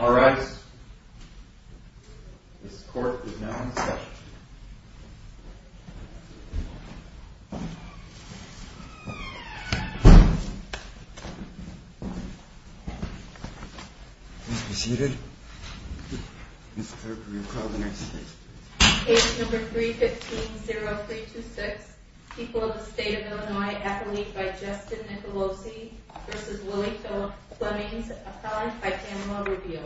Alright, this court is now in session. Please be seated. Ms. Kirk, will you call the next case? Case No. 315-0326, People of the State of Illinois, athlete by Justin Nicolosi v. Lily Flemings, applied by Pamela Rubio.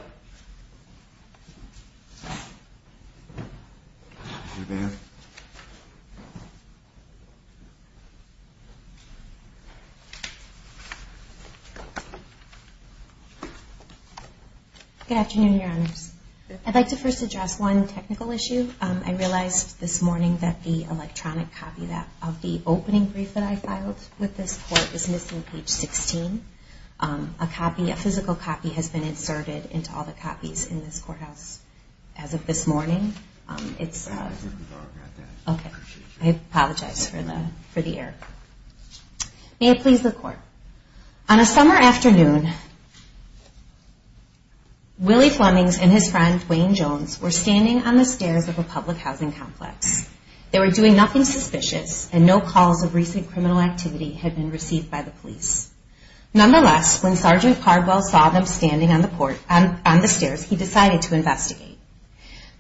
Good afternoon, Your Honors. I'd like to first address one technical issue. I realized this morning that the electronic copy of the opening brief that I filed with this court is missing page 16. A physical copy has been inserted into all the copies in this courthouse as of this morning. I apologize for the error. May it please the court. On a summer afternoon, Lily Flemings and his friend, Wayne Jones, were standing on the stairs of a public housing complex. They were doing nothing suspicious and no calls of recent criminal activity had been received by the police. Nonetheless, when Sgt. Cardwell saw them standing on the stairs, he decided to investigate.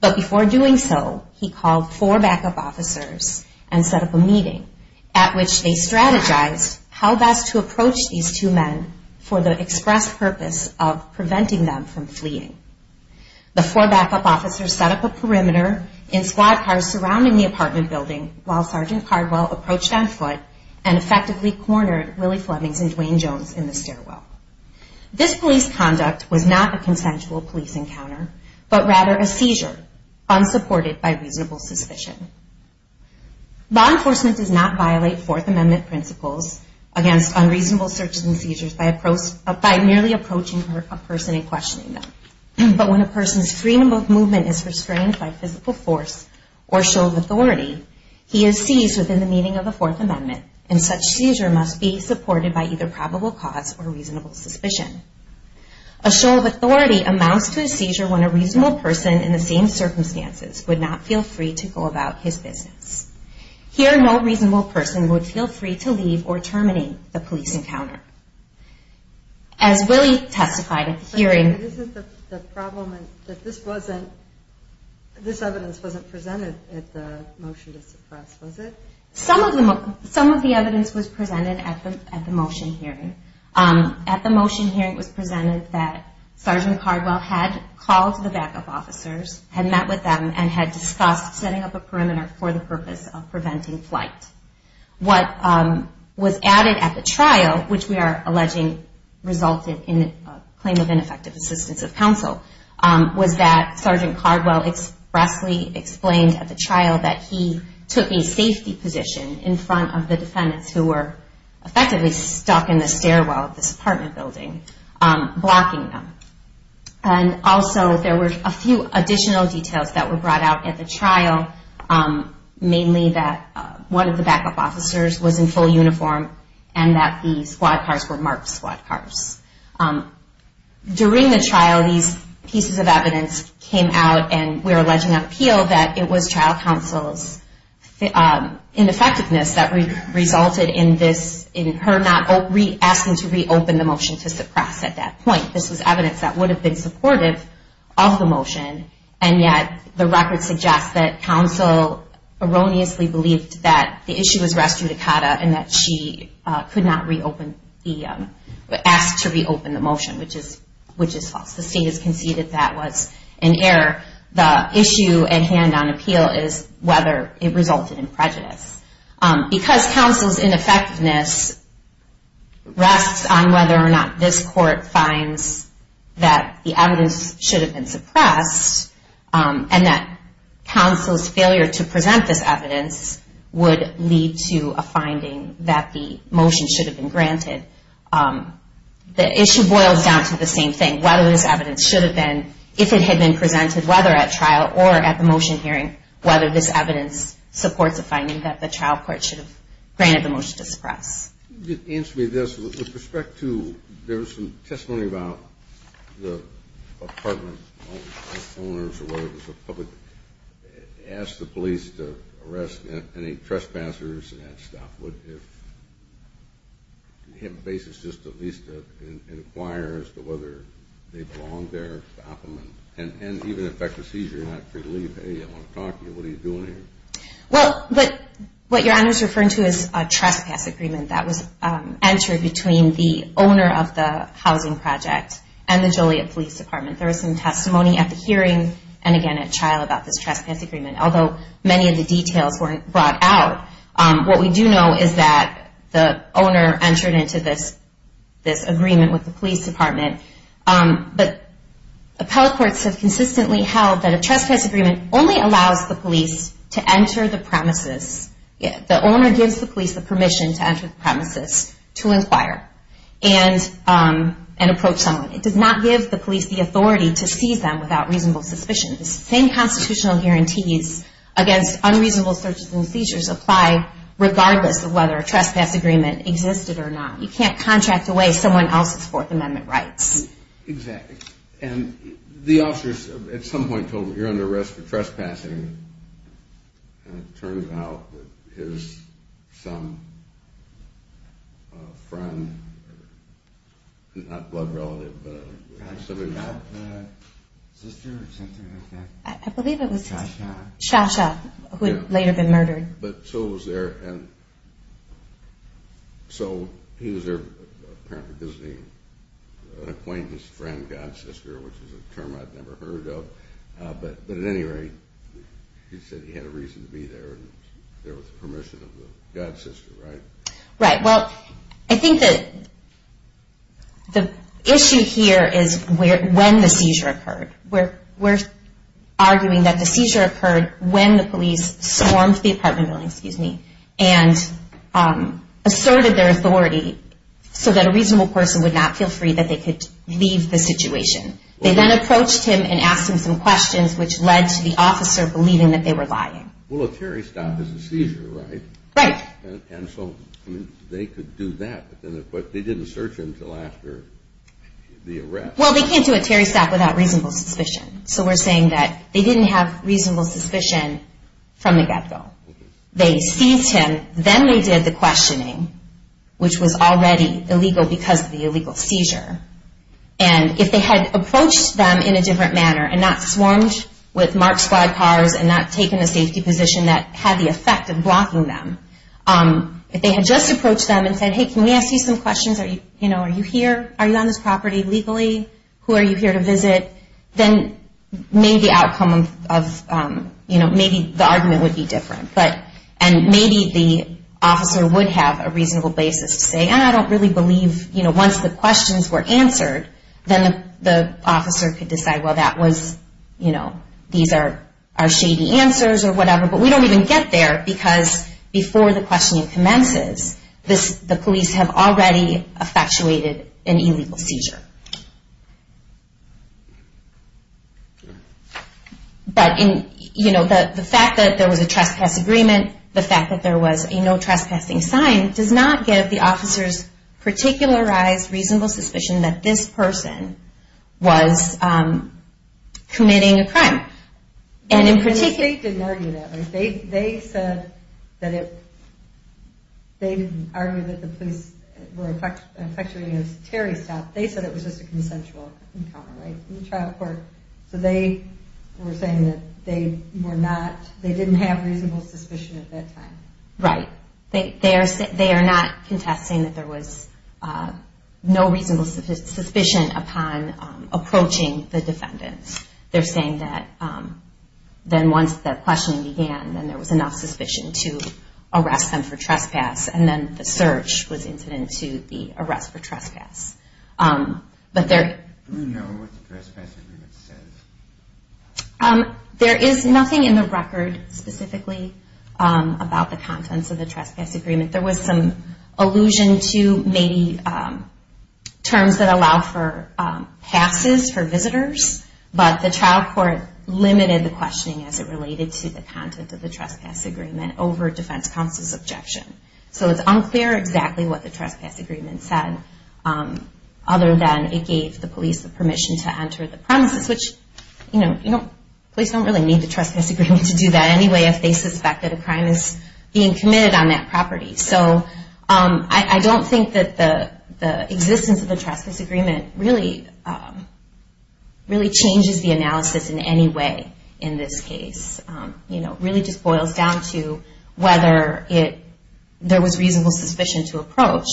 But before doing so, he called four backup officers and set up a meeting at which they strategized how best to approach these two men for the express purpose of preventing them from fleeing. The four backup officers set up a perimeter in squad cars surrounding the apartment building while Sgt. Cardwell approached on foot and effectively cornered Lily Flemings and Wayne Jones in the stairwell. This police conduct was not a consensual police encounter, but rather a seizure unsupported by reasonable suspicion. Law enforcement does not violate Fourth Amendment principles against unreasonable searches and seizures by merely approaching a person and questioning them. But when a person's freedom of movement is restrained by physical force or show of authority, he is seized within the meaning of the Fourth Amendment and such seizure must be supported by either probable cause or reasonable suspicion. A show of authority amounts to a seizure when a reasonable person in the same circumstances would not feel free to go about his business. Here, no reasonable person would feel free to leave or terminate the police encounter. As Lily testified at the hearing... This evidence wasn't presented at the motion to suppress, was it? Some of the evidence was presented at the motion hearing. At the motion hearing, it was presented that Sgt. Cardwell had called the backup officers, had met with them, and had discussed setting up a perimeter for the purpose of preventing flight. What was added at the trial, which we are alleging resulted in a claim of ineffective assistance of counsel, was that Sgt. Cardwell expressly explained at the trial that he took a safety position in front of the defendants who were effectively stuck in the stairwell of this apartment building, blocking them. Also, there were a few additional details that were brought out at the trial, mainly that one of the backup officers was in full uniform and that the squad cars were marked squad cars. During the trial, these pieces of evidence came out and we are alleging on appeal that it was trial counsel's ineffectiveness that resulted in her not asking to reopen the motion to suppress at that point. This was evidence that would have been supportive of the motion, and yet the record suggests that counsel erroneously believed that the issue was res judicata and that she could not ask to reopen the motion, which is false. The state has conceded that was an error. The issue at hand on appeal is whether it resulted in prejudice. Because counsel's ineffectiveness rests on whether or not this court finds that the evidence should have been suppressed and that counsel's failure to present this evidence would lead to a finding that the motion should have been granted. The issue boils down to the same thing, whether this evidence should have been, if it had been presented, whether at trial or at the motion hearing, whether this evidence supports a finding that the trial court should have granted the motion to suppress. With respect to, there was some testimony about the apartment owners, or whether it was the public, asked the police to arrest any trespassers and that stuff. If you have a basis just at least to inquire as to whether they belong there, stop them, and even if that's a seizure, not to leave, hey, I want to talk to you, what are you doing here? What your Honor is referring to is a trespass agreement that was entered between the owner of the housing project and the Joliet Police Department. There was some testimony at the hearing and again at trial about this trespass agreement. Although many of the details weren't brought out, what we do know is that the owner entered into this agreement with the police department. But appellate courts have consistently held that a trespass agreement only allows the police to enter the premises, the owner gives the police the permission to enter the premises to inquire and approach someone. It does not give the police the authority to seize them without reasonable suspicions. The same constitutional guarantees against unreasonable searches and seizures apply regardless of whether a trespass agreement existed or not. You can't contract away someone else's Fourth Amendment rights. And the officers at some point told him, you're under arrest for trespassing, and it turns out that his some friend, not blood relative, but something like that. I believe it was Shasha who had later been murdered. So he was there apparently visiting an acquaintance, friend, god sister, which is a term I've never heard of. But at any rate, he said he had a reason to be there and was there with the permission of the god sister, right? Right. Well, I think that the issue here is when the seizure occurred. We're arguing that the seizure occurred when the police swarmed the apartment building and asserted their authority so that a reasonable person would not feel free that they could leave the situation. They then approached him and asked him some questions, which led to the officer believing that they were lying. Well, a Terry stop is a seizure, right? Right. And so they could do that, but they didn't search him until after the arrest. Well, they can't do a Terry stop without reasonable suspicion. So we're saying that they didn't have reasonable suspicion from the get-go. They seized him. Then they did the questioning, which was already illegal because of the illegal seizure. And if they had approached them in a different manner and not swarmed with marked squad cars and not taken a safety position that had the effect of blocking them, if they had just approached them and said, hey, can we ask you some questions? Are you here? Are you on this property legally? Who are you here to visit? Then maybe the outcome of, you know, maybe the argument would be different. And maybe the officer would have a reasonable basis to say, I don't really believe. Once the questions were answered, then the officer could decide, well, that was, you know, these are shady answers or whatever. But we don't even get there because before the questioning commences, the police have already effectuated an illegal seizure. But, you know, the fact that there was a trespass agreement, the fact that there was a no trespassing sign, does not give the officers particularized reasonable suspicion that this person was committing a crime. And the state didn't argue that. They said that it, they didn't argue that the police were effectuating a terrorist act. They said it was just a consensual encounter, right, in the trial court. So they were saying that they were not, they didn't have reasonable suspicion at that time. Right. They are not contesting that there was no reasonable suspicion upon approaching the defendants. They're saying that then once the questioning began, then there was enough suspicion to arrest them for trespass. And then the search was incident to the arrest for trespass. But there... Do we know what the trespass agreement says? There is nothing in the record specifically about the contents of the trespass agreement. There was some allusion to maybe terms that allow for passes for visitors, but the trial court limited the questioning as it related to the content of the trespass agreement over defense counsel's objection. So it's unclear exactly what the trespass agreement said, other than it gave the police the permission to enter the premises, which, you know, police don't really need the trespass agreement to do that anyway if they suspect that a crime is being committed on that property. So I don't think that the existence of the trespass agreement really changes the analysis in any way in this case. You know, it really just boils down to whether there was reasonable suspicion to approach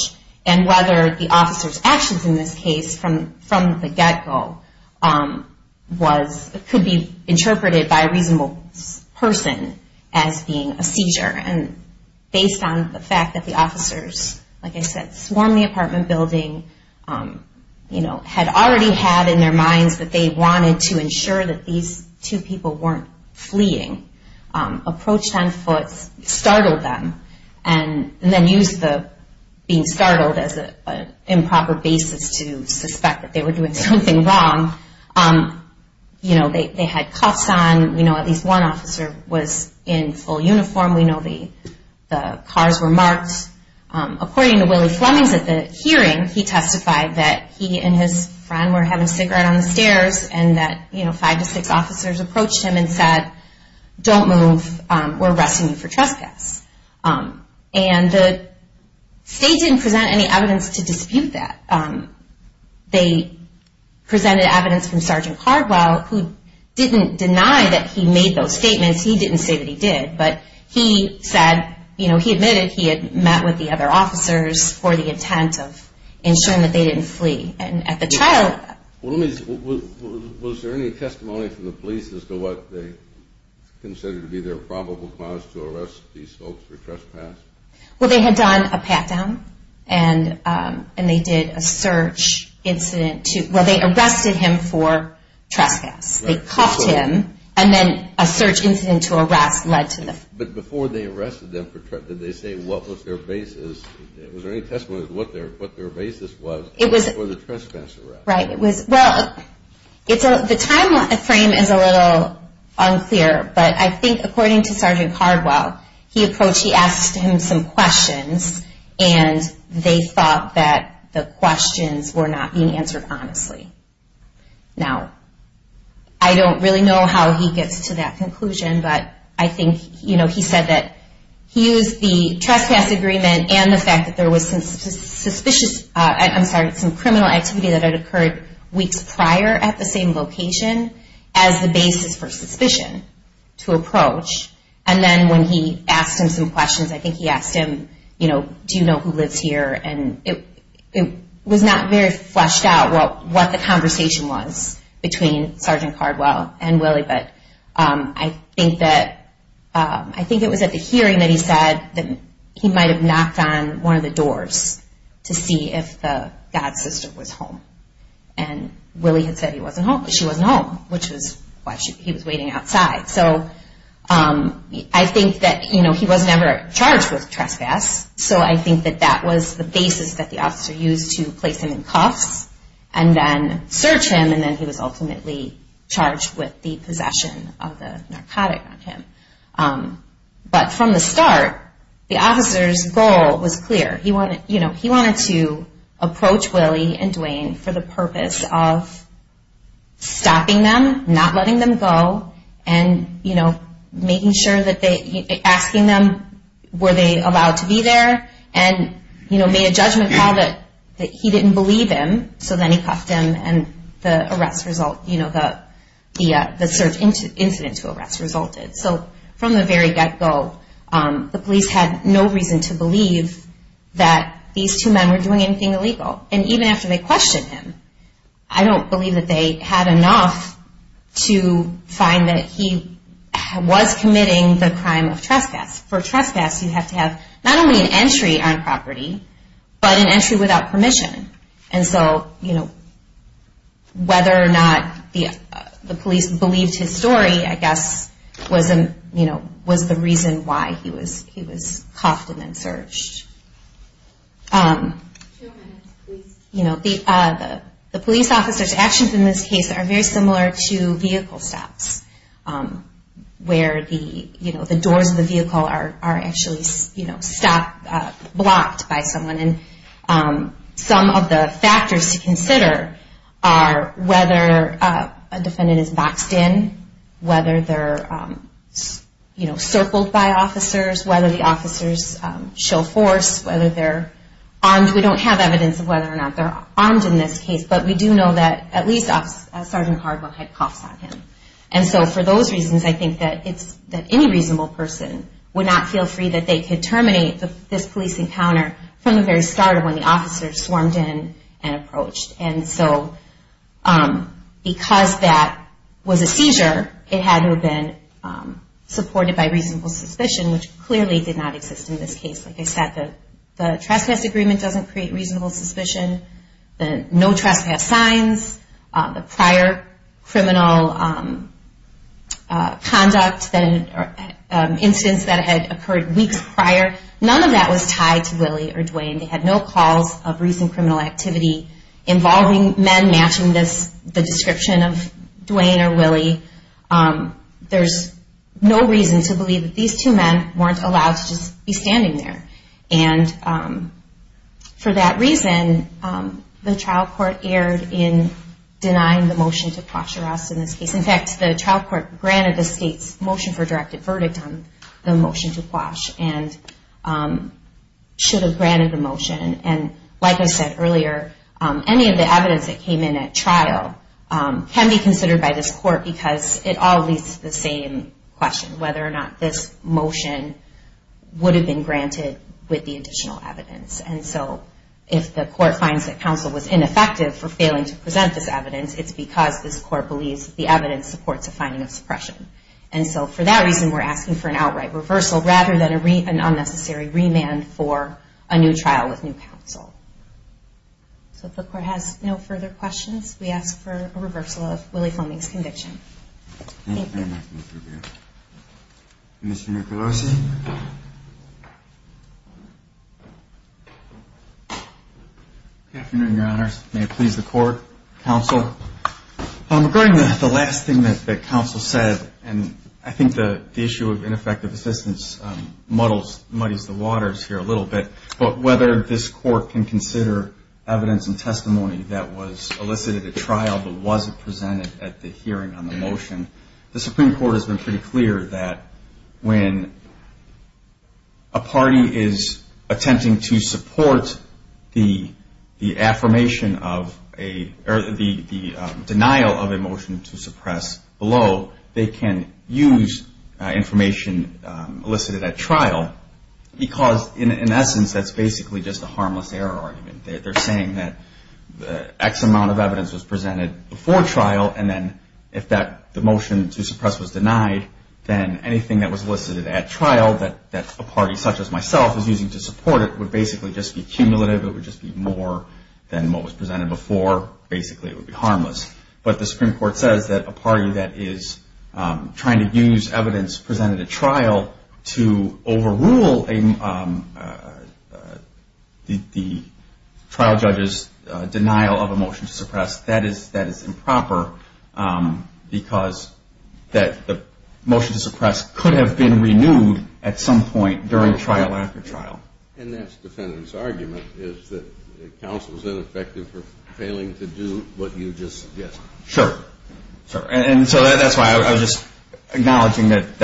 and whether the officer's actions in this case from the get-go was... could be interpreted by a reasonable person as being a seizure. And based on the fact that the officers, like I said, swarmed the apartment building, you know, had already had in their minds that they wanted to ensure that these two people weren't fleeing, approached on foot, startled them, and then used the being startled as an improper basis to suspect that they were doing something wrong. You know, they had cuffs on. You know, at least one officer was in full uniform. We know the cars were marked. According to Willie Flemings at the hearing, he testified that he and his friend were having a cigarette on the stairs and that, you know, five to six officers approached him and said, don't move, we're arresting you for trespass. And the state didn't present any evidence to dispute that. They presented evidence from Sergeant Cardwell, who didn't deny that he made those statements. He didn't say that he did. But he said, you know, he admitted he had met with the other officers for the intent of ensuring that they didn't flee. Was there any testimony from the police as to what they considered to be their probable cause to arrest these folks for trespass? Well, they had done a pat-down, and they did a search incident. Well, they arrested him for trespass. They cuffed him, and then a search incident to arrest led to the- But before they arrested them, did they say what was their basis? Was there any testimony as to what their basis was for the trespass arrest? Right. Well, the time frame is a little unclear, but I think according to Sergeant Cardwell, he approached, he asked him some questions, and they thought that the questions were not being answered honestly. Now, I don't really know how he gets to that conclusion, but I think, you know, he said that he used the trespass agreement and the fact that there was some suspicious- I'm sorry, some criminal activity that had occurred weeks prior at the same location as the basis for suspicion to approach. And then when he asked him some questions, I think he asked him, you know, do you know who lives here? And it was not very fleshed out what the conversation was between Sergeant Cardwell and Willie, but I think it was at the hearing that he said that he might have knocked on one of the doors to see if the God sister was home. And Willie had said she wasn't home, which was why he was waiting outside. So I think that, you know, he was never charged with trespass, so I think that that was the basis that the officer used to place him in cuffs and then search him, and then he was ultimately charged with the possession of the narcotic on him. But from the start, the officer's goal was clear. He wanted to approach Willie and Duane for the purpose of stopping them, not letting them go, and, you know, making sure that they- asking them were they allowed to be there, and, you know, made a judgment call that he didn't believe him, so then he cuffed him and the arrest result, you know, the search incident to arrest resulted. So from the very get-go, the police had no reason to believe that these two men were doing anything illegal. And even after they questioned him, I don't believe that they had enough to find that he was committing the crime of trespass. For trespass, you have to have not only an entry on property, but an entry without permission. And so, you know, whether or not the police believed his story, I guess, was the reason why he was cuffed and then searched. You know, the police officer's actions in this case are very similar to vehicle stops, where the doors of the vehicle are actually blocked by someone. And some of the factors to consider are whether a defendant is boxed in, whether they're, you know, circled by officers, whether the officers show force, whether they're armed. We don't have evidence of whether or not they're armed in this case, but we do know that at least Sergeant Hardwell had cuffs on him. And so for those reasons, I think that it's- that any reasonable person would not feel free that they could terminate this police encounter from the very start of when the officers swarmed in and approached. And so because that was a seizure, it had to have been supported by reasonable suspicion, which clearly did not exist in this case. Like I said, the trespass agreement doesn't create reasonable suspicion. The no trespass signs, the prior criminal conduct, the instance that had occurred weeks prior, none of that was tied to Willie or Dwayne. They had no calls of recent criminal activity involving men matching the description of Dwayne or Willie. There's no reason to believe that these two men weren't allowed to just be standing there. And for that reason, the trial court erred in denying the motion to quash the arrest in this case. In fact, the trial court granted the state's motion for directed verdict on the motion to quash and should have granted the motion. And like I said earlier, any of the evidence that came in at trial can be considered by this court because it all leads to the same question, whether or not this motion would have been granted with the additional evidence. And so if the court finds that counsel was ineffective for failing to present this evidence, it's because this court believes the evidence supports a finding of suppression. And so for that reason, we're asking for an outright reversal rather than an unnecessary remand for a new trial with new counsel. So if the court has no further questions, we ask for a reversal of Willie Fleming's conviction. Thank you. Commissioner Pelosi. Good afternoon, Your Honors. May it please the court, counsel. Regarding the last thing that counsel said, and I think the issue of ineffective assistance muddies the waters here a little bit, but whether this court can consider evidence and testimony that was elicited at trial but wasn't presented at the hearing on the motion, the Supreme Court has been pretty clear that when a party is attempting to support the affirmation of a or the denial of a motion to suppress below, they can use information elicited at trial because, in essence, that's basically just a harmless error argument. They're saying that X amount of evidence was presented before trial, and then if the motion to suppress was denied, then anything that was elicited at trial that a party such as myself is using to support it would basically just be cumulative. It would just be more than what was presented before. Basically, it would be harmless. But the Supreme Court says that a party that is trying to use evidence presented at trial to overrule the trial judge's denial of a motion to suppress, that is improper because the motion to suppress could have been renewed at some point during trial after trial. And that's the defendant's argument, is that counsel is ineffective for failing to do what you just suggested. Sure. And so that's why I was just acknowledging that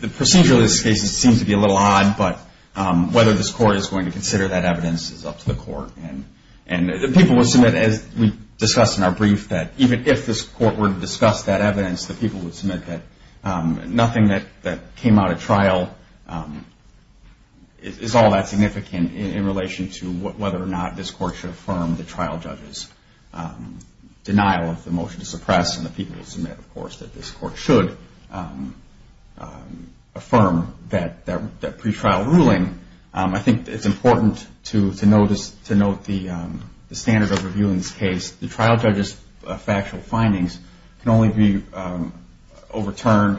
the procedure of this case seems to be a little odd, but whether this court is going to consider that evidence is up to the court. And the people would submit, as we discussed in our brief, that even if this court were to discuss that evidence, the people would submit that nothing that came out at trial is all that significant in relation to whether or not this court should affirm the trial judge's denial of the motion to suppress. And the people would submit, of course, that this court should affirm that pretrial ruling. I think it's important to note the standards of reviewing this case. The trial judge's factual findings can only be overturned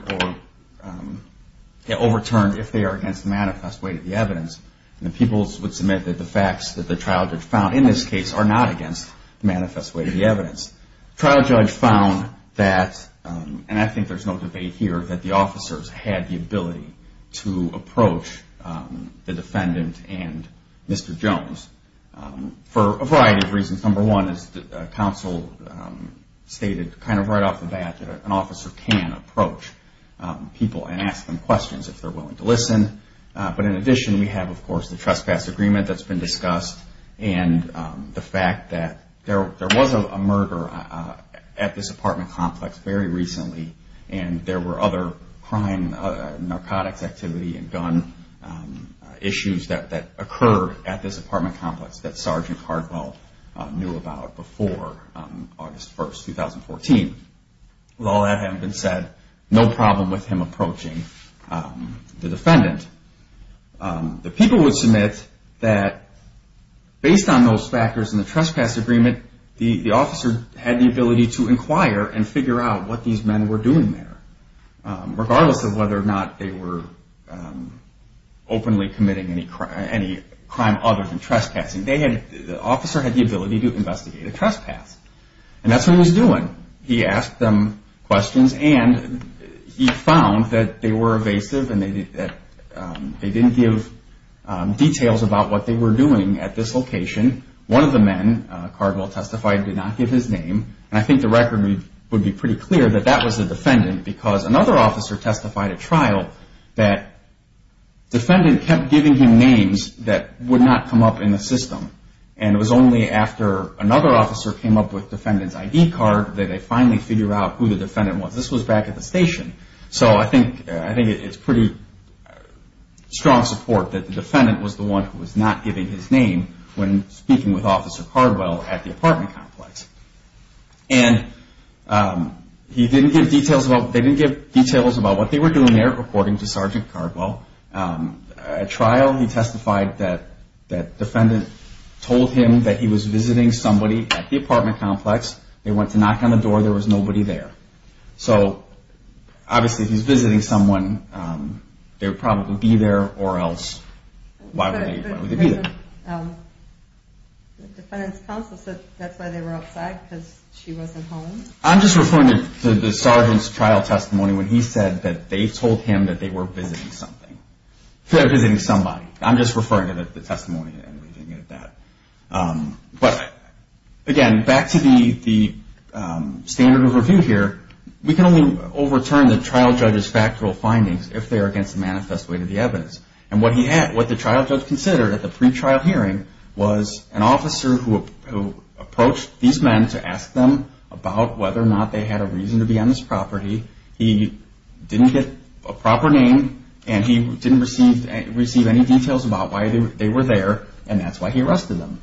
if they are against the manifest weight of the evidence. And the people would submit that the facts that the trial judge found in this case are not against the manifest weight of the evidence. Trial judge found that, and I think there's no debate here, that the officers had the ability to approach the defendant and Mr. Counsel stated kind of right off the bat that an officer can approach people and ask them questions if they're willing to listen. But in addition, we have, of course, the trespass agreement that's been discussed and the fact that there was a murder at this apartment complex very recently, and there were other crime, narcotics activity, and gun issues that occurred at this apartment complex that Sergeant Hardwell knew about before August 1, 2014. With all that having been said, no problem with him approaching the defendant. The people would submit that based on those factors and the trespass agreement, the officer had the ability to inquire and figure out what these men were doing there, regardless of whether or not they were openly committing any crime other than trespassing. The officer had the ability to investigate a trespass, and that's what he was doing. He asked them questions, and he found that they were evasive and they didn't give details about what they were doing at this location. One of the men, Hardwell testified, did not give his name, and I think the record would be pretty clear that that was the defendant, because another officer testified at trial that the defendant kept giving him names that would not come up in the system. And it was only after another officer came up with the defendant's ID card that they finally figured out who the defendant was. This was back at the station, so I think it's pretty strong support that the defendant was the one who was not giving his name when speaking with Officer Hardwell at the apartment complex. And they didn't give details about what they were doing there, according to Sergeant Hardwell. At trial, he testified that the defendant told him that he was visiting somebody at the apartment complex. They went to knock on the door. There was nobody there. So, obviously, if he's visiting someone, they would probably be there, or else why would they be there? The defendant's counsel said that's why they were outside, because she wasn't home? I'm just referring to the sergeant's trial testimony when he said that they told him that they were visiting something. Visiting somebody. I'm just referring to the testimony. But, again, back to the standard of review here. We can only overturn the trial judge's factual findings if they are against the manifest weight of the evidence. And what the trial judge considered at the pre-trial hearing was an officer who approached these men to ask them about whether or not they had a reason to be on this property. He didn't get a proper name, and he didn't receive any details about why they were there, and that's why he arrested them.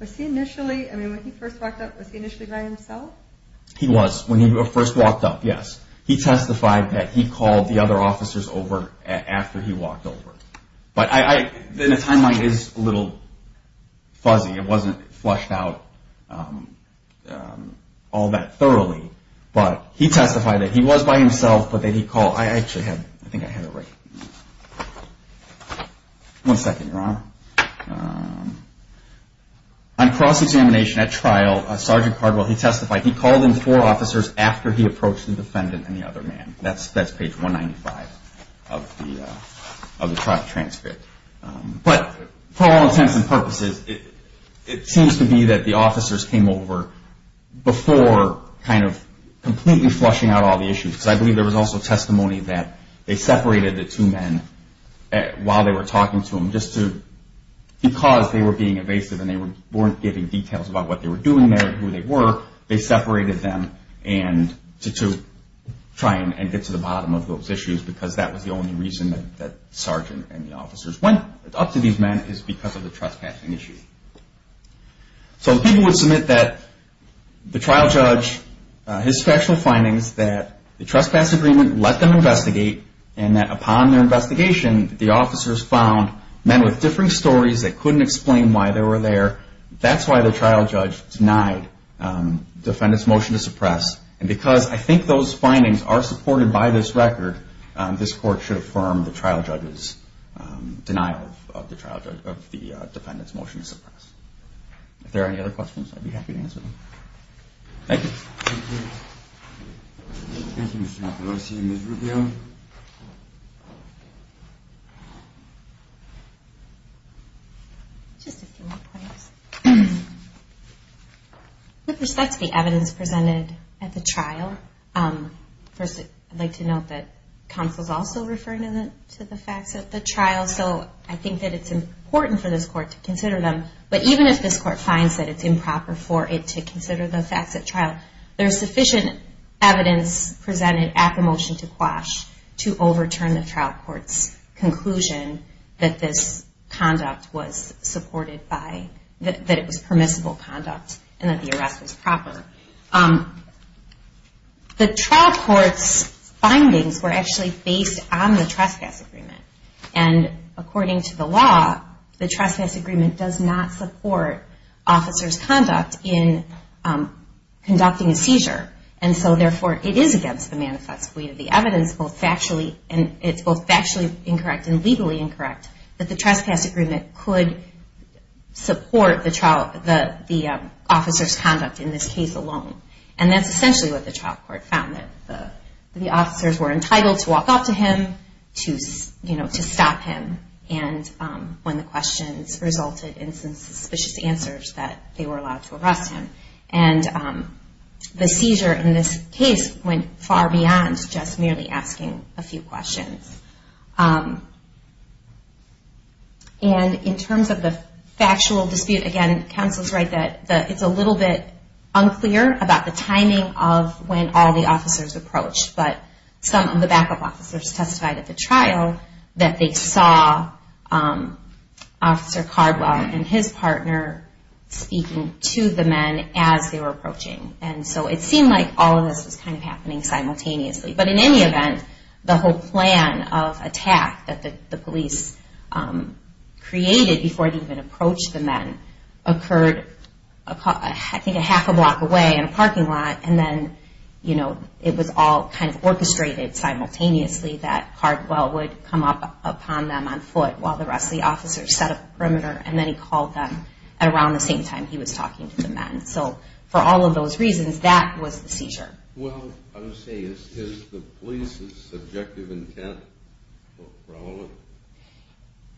Was he initially, I mean, when he first walked up, was he initially by himself? He was. When he first walked up, yes. He testified that he called the other officers over after he walked over. But the timeline is a little fuzzy. It wasn't flushed out all that thoroughly. But he testified that he was by himself, but that he called... I actually have, I think I have it right. One second, Your Honor. On cross-examination at trial, Sergeant Cardwell, he testified he called in four officers after he approached the defendant and the other man. That's page 195 of the trial transcript. But for all intents and purposes, it seems to be that the officers came over before kind of completely flushing out all the issues. Because I believe there was also testimony that they separated the two men while they were talking to them, just to... Because they were being evasive and they weren't giving details about what they were doing there and who they were, they separated them. And to try and get to the bottom of those issues, because that was the only reason that the sergeant and the officers went up to these men, is because of the trespassing issue. So the people would submit that the trial judge, his factual findings, that the trespass agreement let them investigate, and that upon their investigation, the officers found men with differing stories that couldn't explain why they were there. That's why the trial judge denied the defendant's motion to suppress. And because I think those findings are supported by this record, this court should affirm the trial judge's denial of the defendant's motion to suppress. If there are any other questions, I'd be happy to answer them. Thank you. Thank you, Mr. Napolosi. Ms. Rubio? Just a few more points. With respect to the evidence presented at the trial, first I'd like to note that counsel is also referring to the facts at the trial. And also I think that it's important for this court to consider them, but even if this court finds that it's improper for it to consider the facts at trial, there's sufficient evidence presented at the motion to quash to overturn the trial court's conclusion that this conduct was supported by, that it was permissible conduct and that the arrest was proper. The trial court's findings were actually based on the trespass agreement. And according to the law, the trespass agreement does not support officers' conduct in conducting a seizure. And so therefore, it is against the manifest way of the evidence, both factually, and it's both factually incorrect and legally incorrect, that the trespass agreement could support the officers' conduct in this case alone. And that's essentially what the trial court found, that the officers were entitled to walk up to him, to stop him, and when the questions resulted in some suspicious answers, that they were allowed to arrest him. And the seizure in this case went far beyond just merely asking a few questions. And in terms of the factual dispute, again, counsel's right that it's a little bit unclear about the timing of when all the officers approached, but some of the backup officers testified at the trial that they saw Officer Cardwell and his partner speaking to the men as they were approaching. And so it seemed like all of this was kind of happening simultaneously. And so the reason for that is that the moment of attack that the police created before they even approached the men occurred, I think, a half a block away in a parking lot, and then, you know, it was all kind of orchestrated simultaneously that Cardwell would come up upon them on foot while the rest of the officers set up the perimeter, and then he called them at around the same time he was talking to the men. So for all of those reasons, that was the seizure.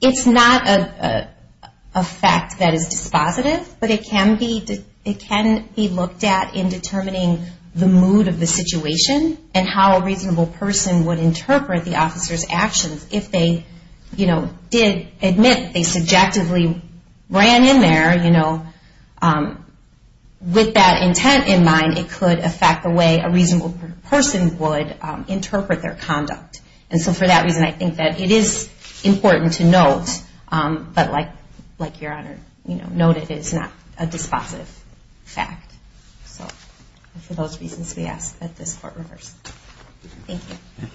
It's not a fact that is dispositive, but it can be looked at in determining the mood of the situation and how a reasonable person would interpret the officer's actions if they, you know, did admit they subjectively ran in there, you know, with that intent in mind, it could affect the way a reasonable person would interpret their conduct. And so for that reason, I think that it is important to note, but like Your Honor noted, it's not a dispositive fact. So for those reasons, we ask that this court reverse. Thank you. Thank you, Your Honor.